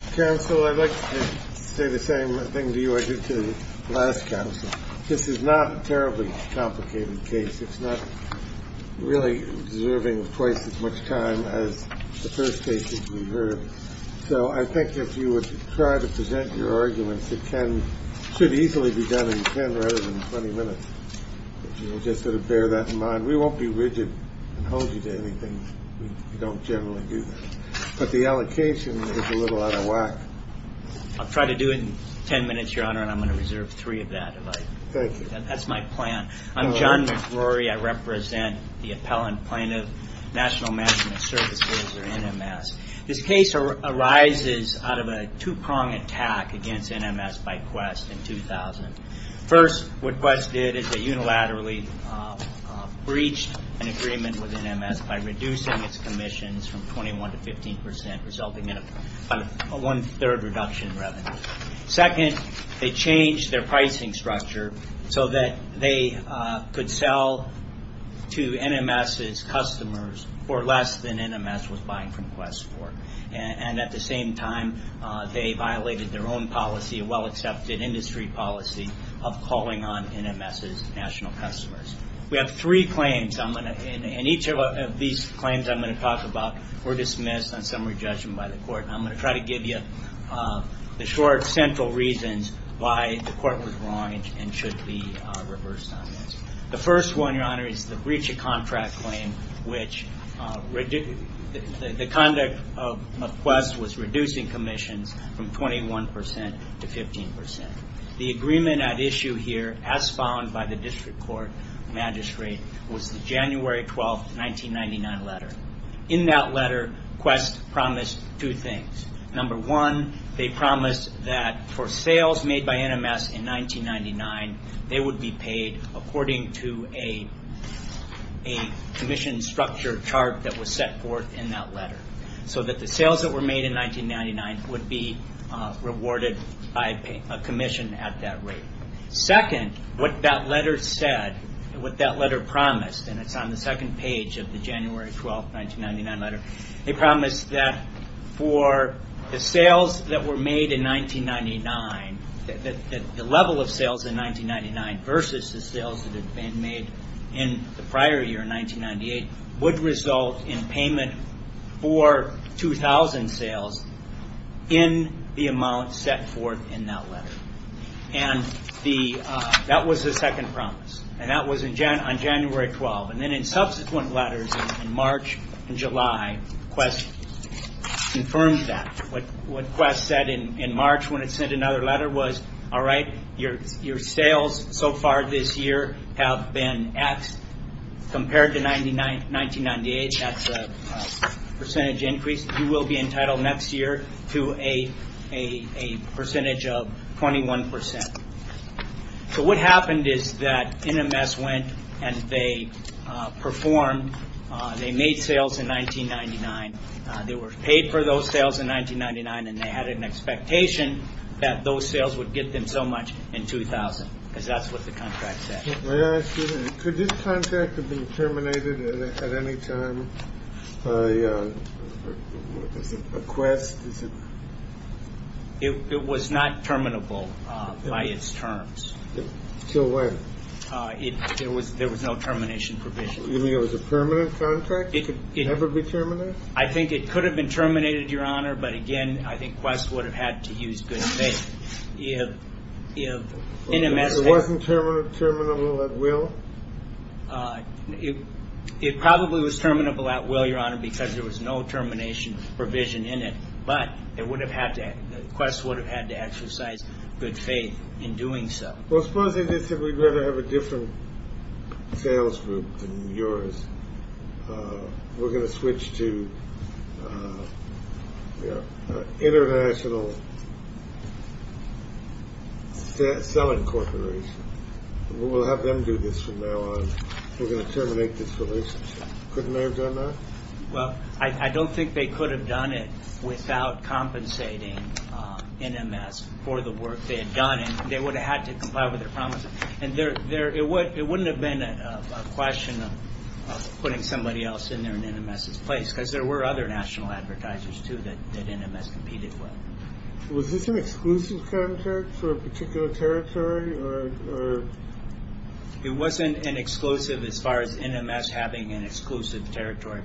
Counsel, I'd like to say the same thing to you I did to the last counsel. This is not a terribly complicated case. It's not really deserving of twice as much time as the first cases we heard. So I think if you would try to present your arguments, it should easily be done in 10 rather than 20 minutes. Just sort of bear that in mind. We won't be rigid and hold you to anything. We don't generally do that. But the allocation is a little out of whack. I'll try to do it in 10 minutes, Your Honor, and I'm going to reserve three of that if I can. Thank you. That's my plan. I'm John McRory. I represent the appellant plaintiff, National Management Services, or NMS. This case arises out of a two-pronged attack against NMS by Qwest in 2000. First, what Qwest did is they unilaterally breached an agreement with NMS by reducing its commissions from 21% to 15%, resulting in a one-third reduction in revenue. Second, they changed their pricing structure so that they could sell to NMS's customers for less than NMS was buying from Qwest for. And at the same time, they violated their own policy, a well-accepted industry policy, of calling on NMS's national customers. We have three claims, and each of these claims I'm going to talk about were dismissed on summary judgment by the court. I'm going to try to give you the short, central reasons why the court was wrong and should be reversed on this. The first one, Your Honor, is the breach of contract claim, which the conduct of Qwest was reducing commissions from 21% to 15%. The agreement at issue here, as found by the district court magistrate, was the January 12, 1999 letter. In that letter, Qwest promised two things. Number one, they promised that for sales made by NMS in 1999, they would be paid according to a commission structure chart that was set forth in that letter, so that the sales that were made in 1999 would be rewarded by a commission at that rate. Second, what that letter said, what that letter promised, and it's on the second page of the January 12, 1999 letter, they promised that for the sales that were made in 1999, the level of sales in 1999 versus the sales that had been made in the prior year, 1998, would result in payment for 2,000 sales in the amount set forth in that letter. That was the second promise, and that was on January 12. Then in subsequent letters in March and July, Qwest confirmed that. What Qwest said in March when it sent another letter was, Your sales so far this year have been X compared to 1998. That's a percentage increase. You will be entitled next year to a percentage of 21%. What happened is that NMS went and they made sales in 1999. They were paid for those sales in 1999, and they had an expectation that those sales would get them so much in 2000, because that's what the contract said. May I ask you, could this contract have been terminated at any time by Qwest? It was not terminable by its terms. Till when? There was no termination provision. You mean it was a permanent contract? It could never be terminated? I think it could have been terminated, Your Honor, but again, I think Qwest would have had to use good faith. It wasn't terminable at will? It probably was terminable at will, Your Honor, because there was no termination provision in it, but Qwest would have had to exercise good faith in doing so. Well, suppose they did say we'd rather have a different sales group than yours. We're going to switch to an international selling corporation. We'll have them do this from now on. We're going to terminate this relationship. Couldn't they have done that? Well, I don't think they could have done it without compensating NMS for the work they had done. They would have had to comply with their promises. And it wouldn't have been a question of putting somebody else in there in NMS's place because there were other national advertisers, too, that NMS competed with. Was this an exclusive contract for a particular territory? It wasn't an exclusive as far as NMS having an exclusive territory,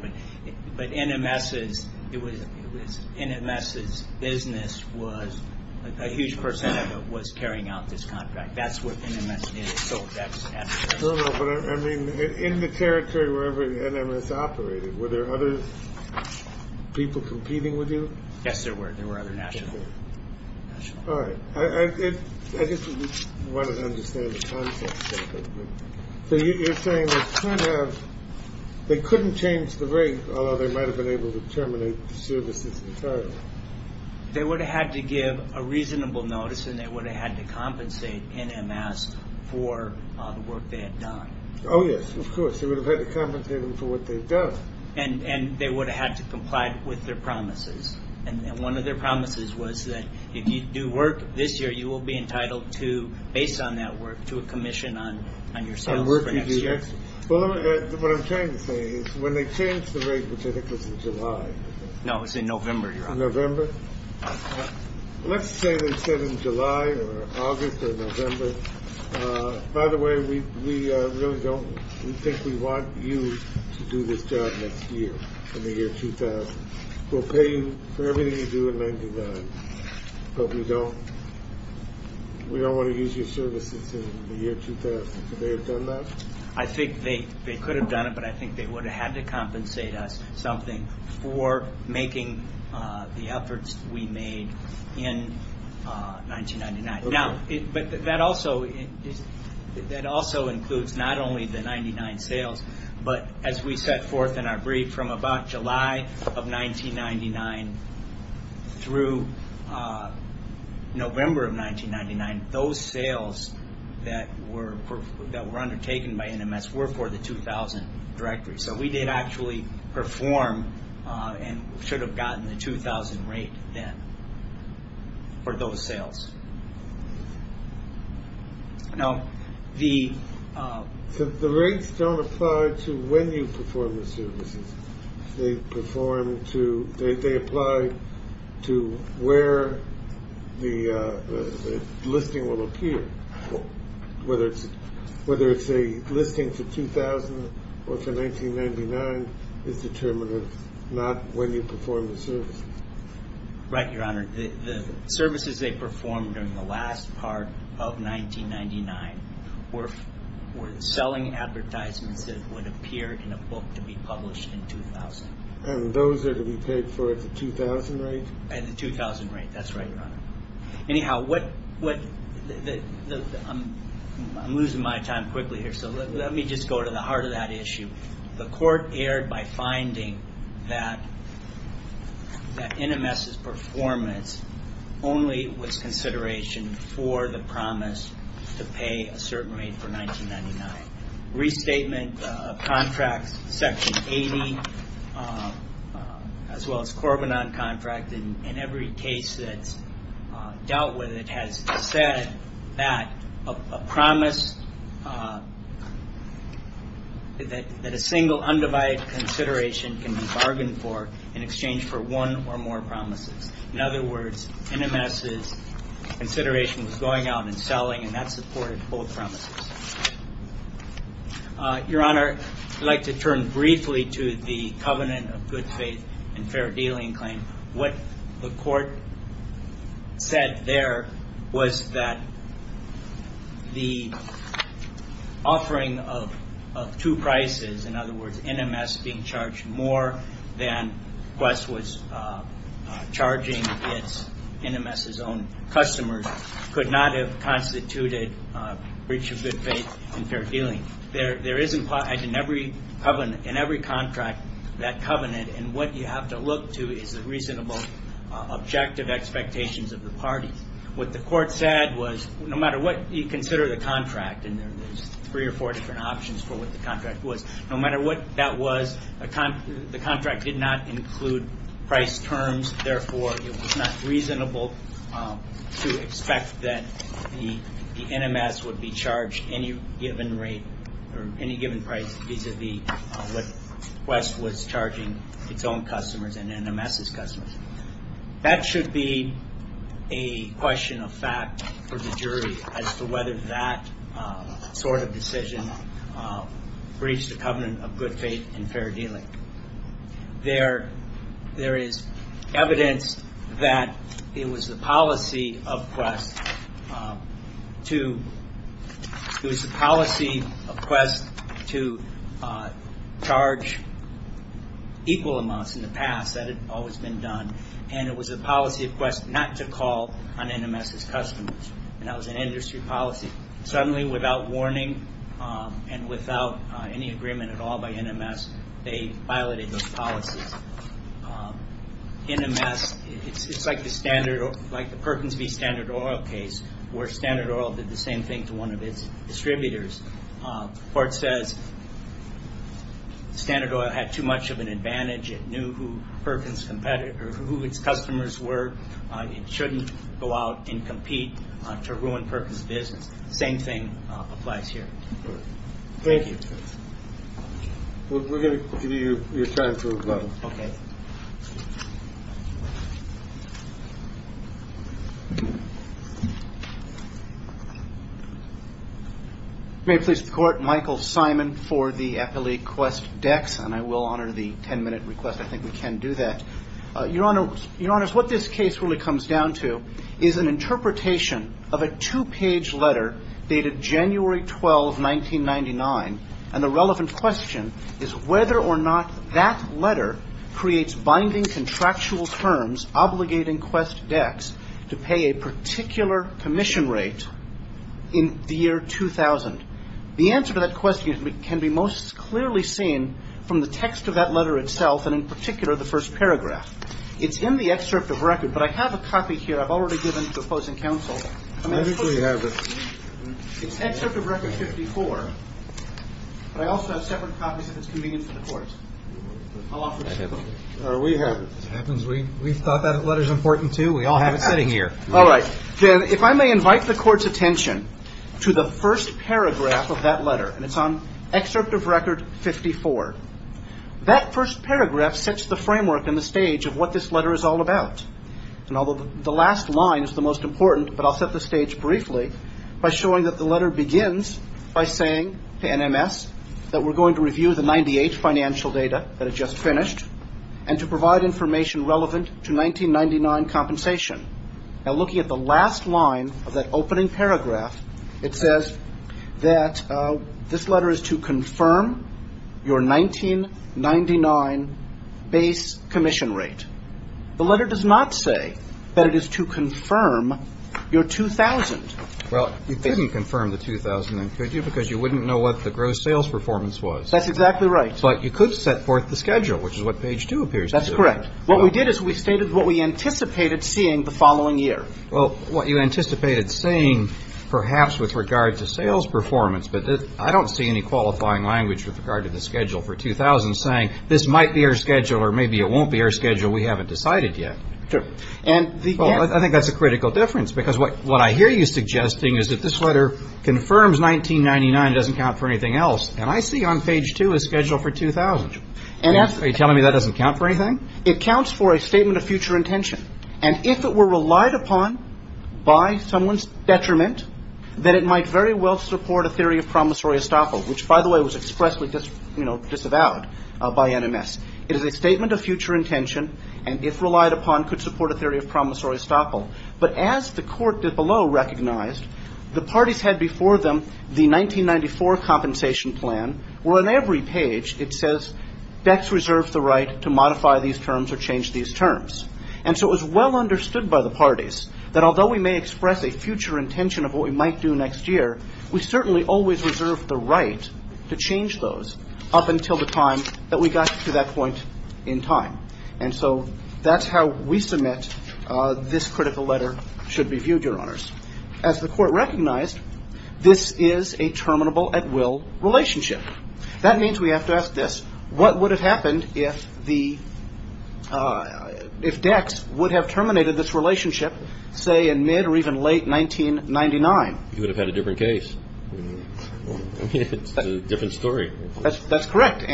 but NMS's business was a huge percentage of what's carrying out this contract. That's what NMS is. No, no, but I mean, in the territory where NMS operated, were there other people competing with you? Yes, there were. There were other national. All right. I just wanted to understand the context of it. So you're saying they couldn't change the rate, although they might have been able to terminate the services entirely. They would have had to give a reasonable notice, and they would have had to compensate NMS for the work they had done. Oh, yes, of course. They would have had to compensate them for what they'd done. And they would have had to comply with their promises. And one of their promises was that if you do work this year, you will be entitled to, based on that work, to a commission on your sales for next year. Well, what I'm trying to say is when they changed the rate, which I think was in July. No, it was in November, Your Honor. In November. Let's say they said in July or August or November, by the way, we really don't think we want you to do this job next year, in the year 2000. We'll pay you for everything you do in 1999. I hope you don't. We don't want to use your services in the year 2000. Could they have done that? I think they could have done it, but I think they would have had to compensate us something for making the efforts we made in 1999. Okay. But that also includes not only the 99 sales, but as we set forth in our brief, from about July of 1999 through November of 1999, those sales that were undertaken by NMS were for the 2000 directory. So we did actually perform and should have gotten the 2000 rate then for those sales. The rates don't apply to when you perform the services. They apply to where the listing will appear. Whether it's a listing for 2000 or for 1999 is determined not when you perform the services. Right, Your Honor. The services they performed during the last part of 1999 were selling advertisements that would appear in a book to be published in 2000. And those are to be paid for at the 2000 rate? At the 2000 rate. That's right, Your Honor. Anyhow, I'm losing my time quickly here, so let me just go to the heart of that issue. The court erred by finding that NMS' performance only was consideration for the promise to pay a certain rate for 1999. Restatement of contracts, Section 80, as well as Corbinon contract, and every case that's dealt with it has said that a promise, that a single undivided consideration can be bargained for in exchange for one or more promises. In other words, NMS' consideration was going out and selling, and that supported both promises. Your Honor, I'd like to turn briefly to the covenant of good faith and fair dealing claim. What the court said there was that the offering of two prices, in other words NMS being charged more than Quest was charging NMS' own customers, could not have constituted breach of good faith and fair dealing. There is implied in every covenant, in every contract, that covenant, and what you have to look to is the reasonable objective expectations of the parties. What the court said was no matter what you consider the contract, and there's three or four different options for what the contract was, no matter what that was, the contract did not include price terms, therefore it was not reasonable to expect that the NMS would be charged any given rate, or any given price vis-a-vis what Quest was charging its own customers and NMS' customers. That should be a question of fact for the jury as to whether that sort of decision breached the covenant of good faith and fair dealing. There is evidence that it was the policy of Quest to charge equal amounts in the past, that had always been done, and it was the policy of Quest not to call on NMS' customers. That was an industry policy. Suddenly, without warning, and without any agreement at all by NMS, they violated those policies. NMS, it's like the Perkins v. Standard Oil case, where Standard Oil did the same thing to one of its distributors. The court says Standard Oil had too much of an advantage, it knew who its customers were, it shouldn't go out and compete to ruin Perkins' business. The same thing applies here. Thank you. We're going to give you your time to reply. Okay. May it please the Court, Michael Simon for the appellee Quest-Dex, and I will honor the ten-minute request. I think we can do that. Your Honor, what this case really comes down to is an interpretation of a two-page letter dated January 12, 1999, and the relevant question is whether or not that letter creates binding contractual terms obligating Quest-Dex to pay a particular commission rate in the year 2000. The answer to that question can be most clearly seen from the text of that letter itself, and in particular the first paragraph. It's in the excerpt of record, but I have a copy here I've already given to opposing counsel. I think we have it. It's excerpt of record 54, but I also have separate copies if it's convenient for the Court. I'll offer it to you. We have it. We thought that letter's important, too. We all have it sitting here. All right. Then if I may invite the Court's attention to the first paragraph of that letter, and it's on excerpt of record 54. That first paragraph sets the framework and the stage of what this letter is all about, and although the last line is the most important, but I'll set the stage briefly by showing that the letter begins by saying to NMS that we're going to review the 98 financial data that had just finished and to provide information relevant to 1999 compensation. Now, looking at the last line of that opening paragraph, it says that this letter is to confirm your 1999 base commission rate. The letter does not say that it is to confirm your 2000. Well, you couldn't confirm the 2000, then, could you, because you wouldn't know what the gross sales performance was. That's exactly right. But you could set forth the schedule, which is what page 2 appears to do. That's correct. What we did is we stated what we anticipated seeing the following year. Well, what you anticipated seeing perhaps with regard to sales performance, but I don't see any qualifying language with regard to the schedule for 2000 saying this might be our schedule or maybe it won't be our schedule, we haven't decided yet. Sure. Well, I think that's a critical difference, because what I hear you suggesting is that this letter confirms 1999, it doesn't count for anything else, and I see on page 2 a schedule for 2000. Are you telling me that doesn't count for anything? It counts for a statement of future intention, and if it were relied upon by someone's detriment, then it might very well support a theory of promissory estoppel, which, by the way, was expressly disavowed by NMS. It is a statement of future intention, and if relied upon could support a theory of promissory estoppel. But as the court below recognized, the parties had before them the 1994 compensation plan, where on every page it says BECCS reserves the right to modify these terms or change these terms. And so it was well understood by the parties that although we may express a future intention of what we might do next year, we certainly always reserve the right to change those up until the time that we got to that point in time. And so that's how we submit this critical letter should be viewed, Your Honors. As the court recognized, this is a terminable at will relationship. That means we have to ask this. What would have happened if BECCS would have terminated this relationship, say, in mid or even late 1999? You would have had a different case. It's a different story. That's correct.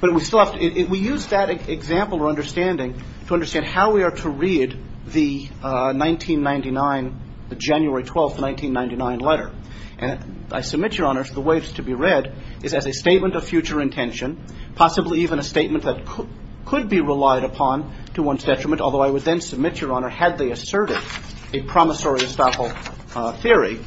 But we still have to – we use that example or understanding to understand how we are to read the 1999, the January 12, 1999 letter. And I submit, Your Honors, the way it's to be read is as a statement of future intention, possibly even a statement that could be relied upon to one's detriment, although I would then submit, Your Honor, had they asserted a promissory estoppel theory,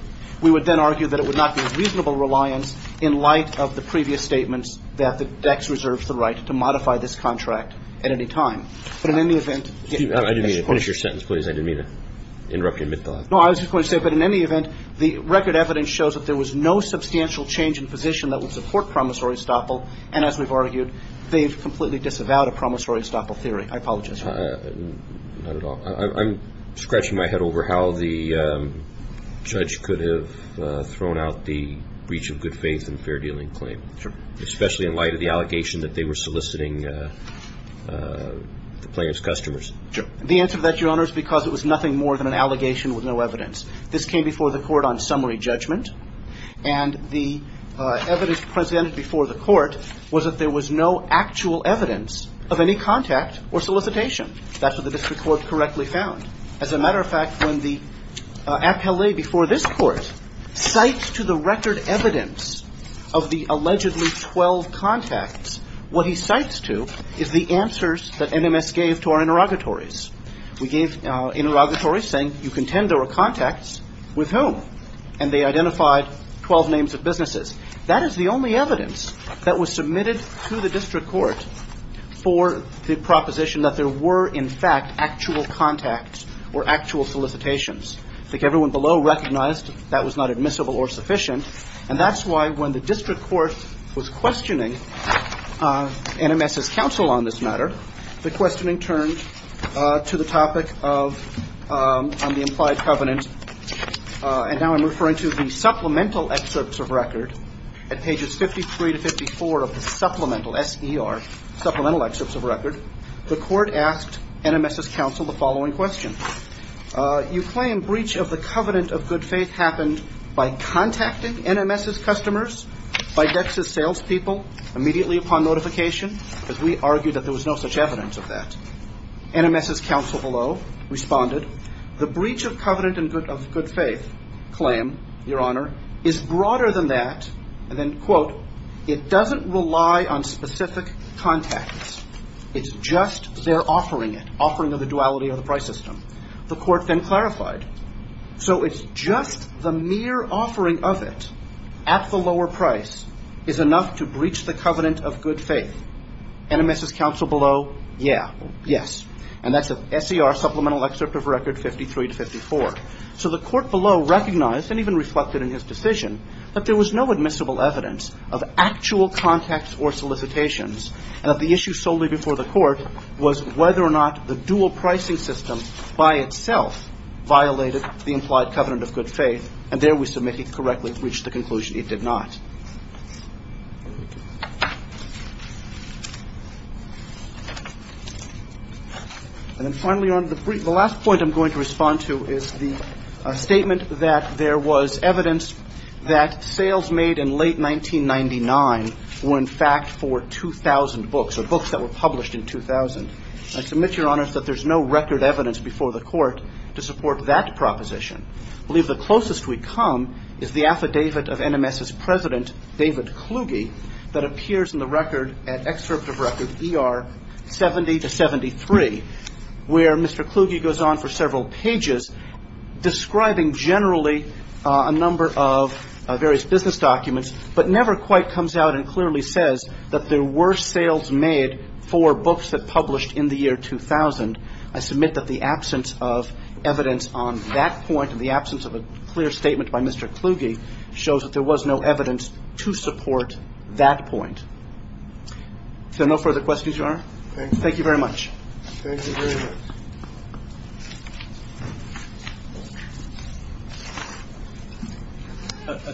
we would then argue that it would not be of reasonable reliance in light of the previous statements that BECCS reserves the right to modify this contract at any time. But in any event – Excuse me. I didn't mean to finish your sentence, please. I didn't mean to interrupt you mid-thought. No, I was just going to say, but in any event, the record evidence shows that there was no substantial change in position that would support promissory estoppel. And as we've argued, they've completely disavowed a promissory estoppel theory. I apologize. Not at all. I'm scratching my head over how the judge could have thrown out the breach of good faith and fair dealing claim. Sure. Especially in light of the allegation that they were soliciting the plaintiff's customers. The answer to that, Your Honors, because it was nothing more than an allegation with no evidence. This came before the court on summary judgment. And the evidence presented before the court was that there was no actual evidence of any contact or solicitation. That's what the district court correctly found. As a matter of fact, when the appellee before this court cites to the record evidence of the allegedly 12 contacts, what he cites to is the answers that NMS gave to our interrogatories. We gave interrogatories saying you contend there were contacts with whom. And they identified 12 names of businesses. That is the only evidence that was submitted to the district court for the proposition that there were, in fact, actual contacts or actual solicitations. I think everyone below recognized that was not admissible or sufficient. And that's why when the district court was questioning NMS's counsel on this matter, the questioning turned to the topic of the implied covenant. And now I'm referring to the supplemental excerpts of record. At pages 53 to 54 of the supplemental, S.E.R., supplemental excerpts of record, the court asked NMS's counsel the following question. You claim breach of the covenant of good faith happened by contacting NMS's customers, by Dex's salespeople, immediately upon notification, because we argue that there was no such evidence of that. NMS's counsel below responded, the breach of covenant of good faith claim, Your Honor, is broader than that. And then, quote, it doesn't rely on specific contacts. It's just their offering it, offering of the duality of the price system. The court then clarified. So it's just the mere offering of it at the lower price is enough to breach the covenant of good faith. NMS's counsel below, yeah, yes. And that's an S.E.R. supplemental excerpt of record 53 to 54. So the court below recognized, and even reflected in his decision, that there was no admissible evidence of actual contacts or solicitations, and that the issue solely before the court was whether or not the dual pricing system by itself violated the implied covenant of good faith. And there we submit he correctly reached the conclusion it did not. And then finally, Your Honor, the last point I'm going to respond to is the statement that there was evidence that sales made in late 1999 were, in fact, for 2,000 books, or books that were published in 2000. I submit, Your Honor, that there's no record evidence before the court to support that proposition. I believe the closest we come is the affidavit of NMS's president, David Kluge, that appears in the record, an excerpt of record ER 70 to 73, where Mr. Kluge goes on for several pages describing generally a number of various business documents, but never quite comes out and clearly says that there were sales made for books that published in the year 2000. I submit that the absence of evidence on that point, and the absence of a clear statement by Mr. Kluge, shows that there was no evidence to support that point. Is there no further questions, Your Honor? Thank you very much. A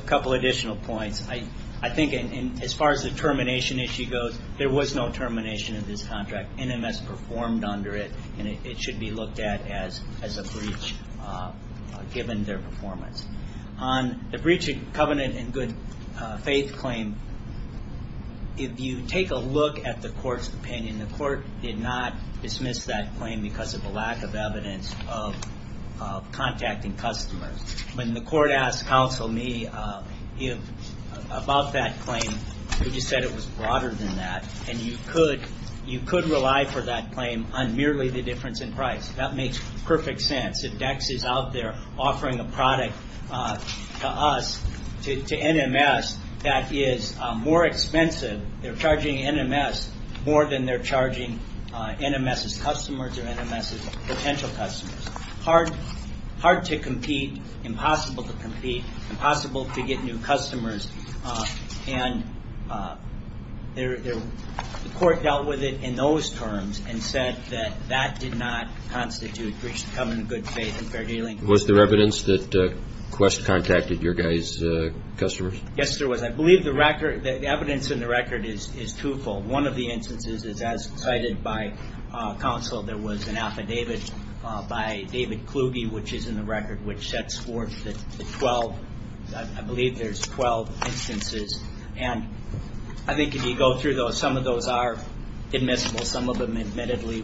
couple additional points. I think as far as the termination issue goes, there was no termination in this contract. NMS performed under it, and it should be looked at as a breach, given their performance. On the breach of covenant and good faith claim, if you take a look at the court's opinion, the court did not dismiss that claim because of a lack of evidence of contacting customers. When the court asked counsel me about that claim, he just said it was broader than that, and you could rely for that claim on merely the difference in price. That makes perfect sense. If DEX is out there offering a product to us, to NMS, that is more expensive. They're charging NMS more than they're charging NMS's customers or NMS's potential customers. Hard to compete, impossible to compete, impossible to get new customers, and the court dealt with it in those terms and said that that did not constitute breach of covenant, good faith, and fair dealing. Was there evidence that Quest contacted your guys' customers? Yes, there was. I believe the evidence in the record is twofold. One of the instances is as cited by counsel. There was an affidavit by David Kluge, which is in the record, which sets forth the 12. I believe there's 12 instances, and I think if you go through those, some of those are admissible. Some of them, admittedly,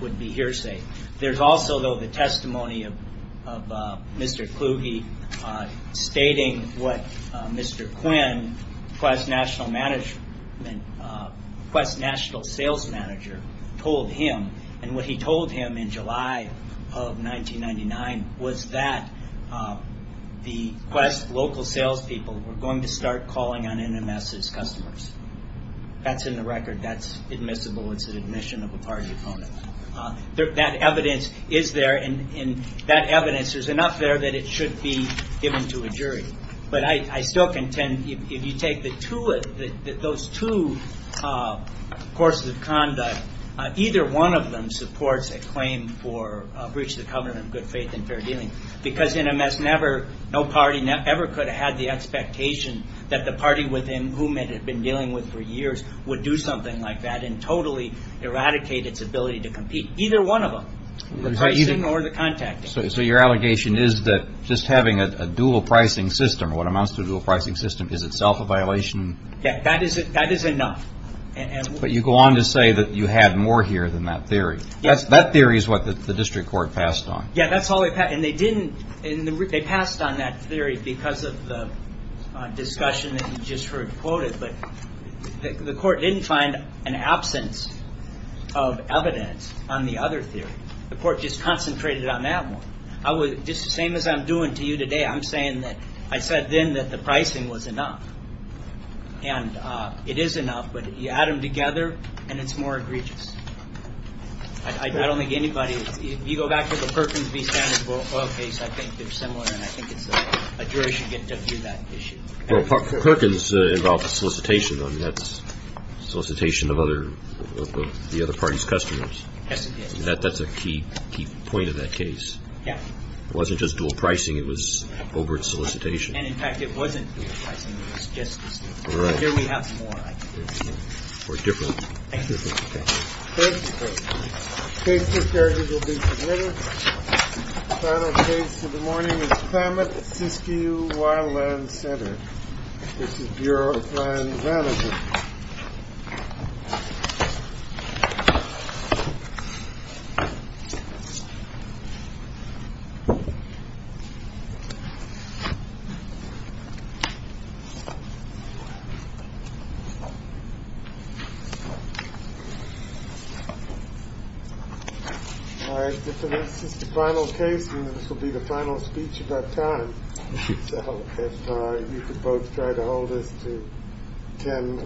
would be hearsay. There's also, though, the testimony of Mr. Kluge stating what Mr. Quinn, Quest National Sales Manager, told him, and what he told him in July of 1999 was that the Quest local salespeople were going to start calling on NMS's customers. That's in the record. That's admissible. It's an admission of a party opponent. That evidence is there, and that evidence, there's enough there that it should be given to a jury. But I still contend, if you take those two courses of conduct, either one of them supports a claim for breach of covenant, good faith, and fair dealing, because NMS never, no party ever could have had the expectation that the party with whom it had been dealing with for years would do something like that and totally eradicate its ability to compete. Either one of them, the pricing or the contacting. So your allegation is that just having a dual pricing system, what amounts to a dual pricing system, is itself a violation? Yeah, that is enough. But you go on to say that you had more here than that theory. That theory is what the district court passed on. Yeah, that's all they passed. And they passed on that theory because of the discussion that you just heard quoted. But the court didn't find an absence of evidence on the other theory. The court just concentrated on that one. Just the same as I'm doing to you today, I'm saying that I said then that the pricing was enough. And it is enough, but you add them together, and it's more egregious. I don't think anybody, if you go back to the Perkins v. Standards Boyle case, I think they're similar, and I think a jury should get to view that issue. Well, Perkins involved solicitation. I mean, that's solicitation of the other party's customers. Yes, it did. That's a key point of that case. Yeah. It wasn't just dual pricing. It was overt solicitation. And, in fact, it wasn't dual pricing. It was just the same. Here we have some more, I think. Or different. Thank you. Thank you. Case discharges will be submitted. The final case of the morning is Klamath Siskiyou Wildland Center. This is Bureau of Land Management. All right. This is the final case, and this will be the final speech of that time. So if you could both try to hold this to 10.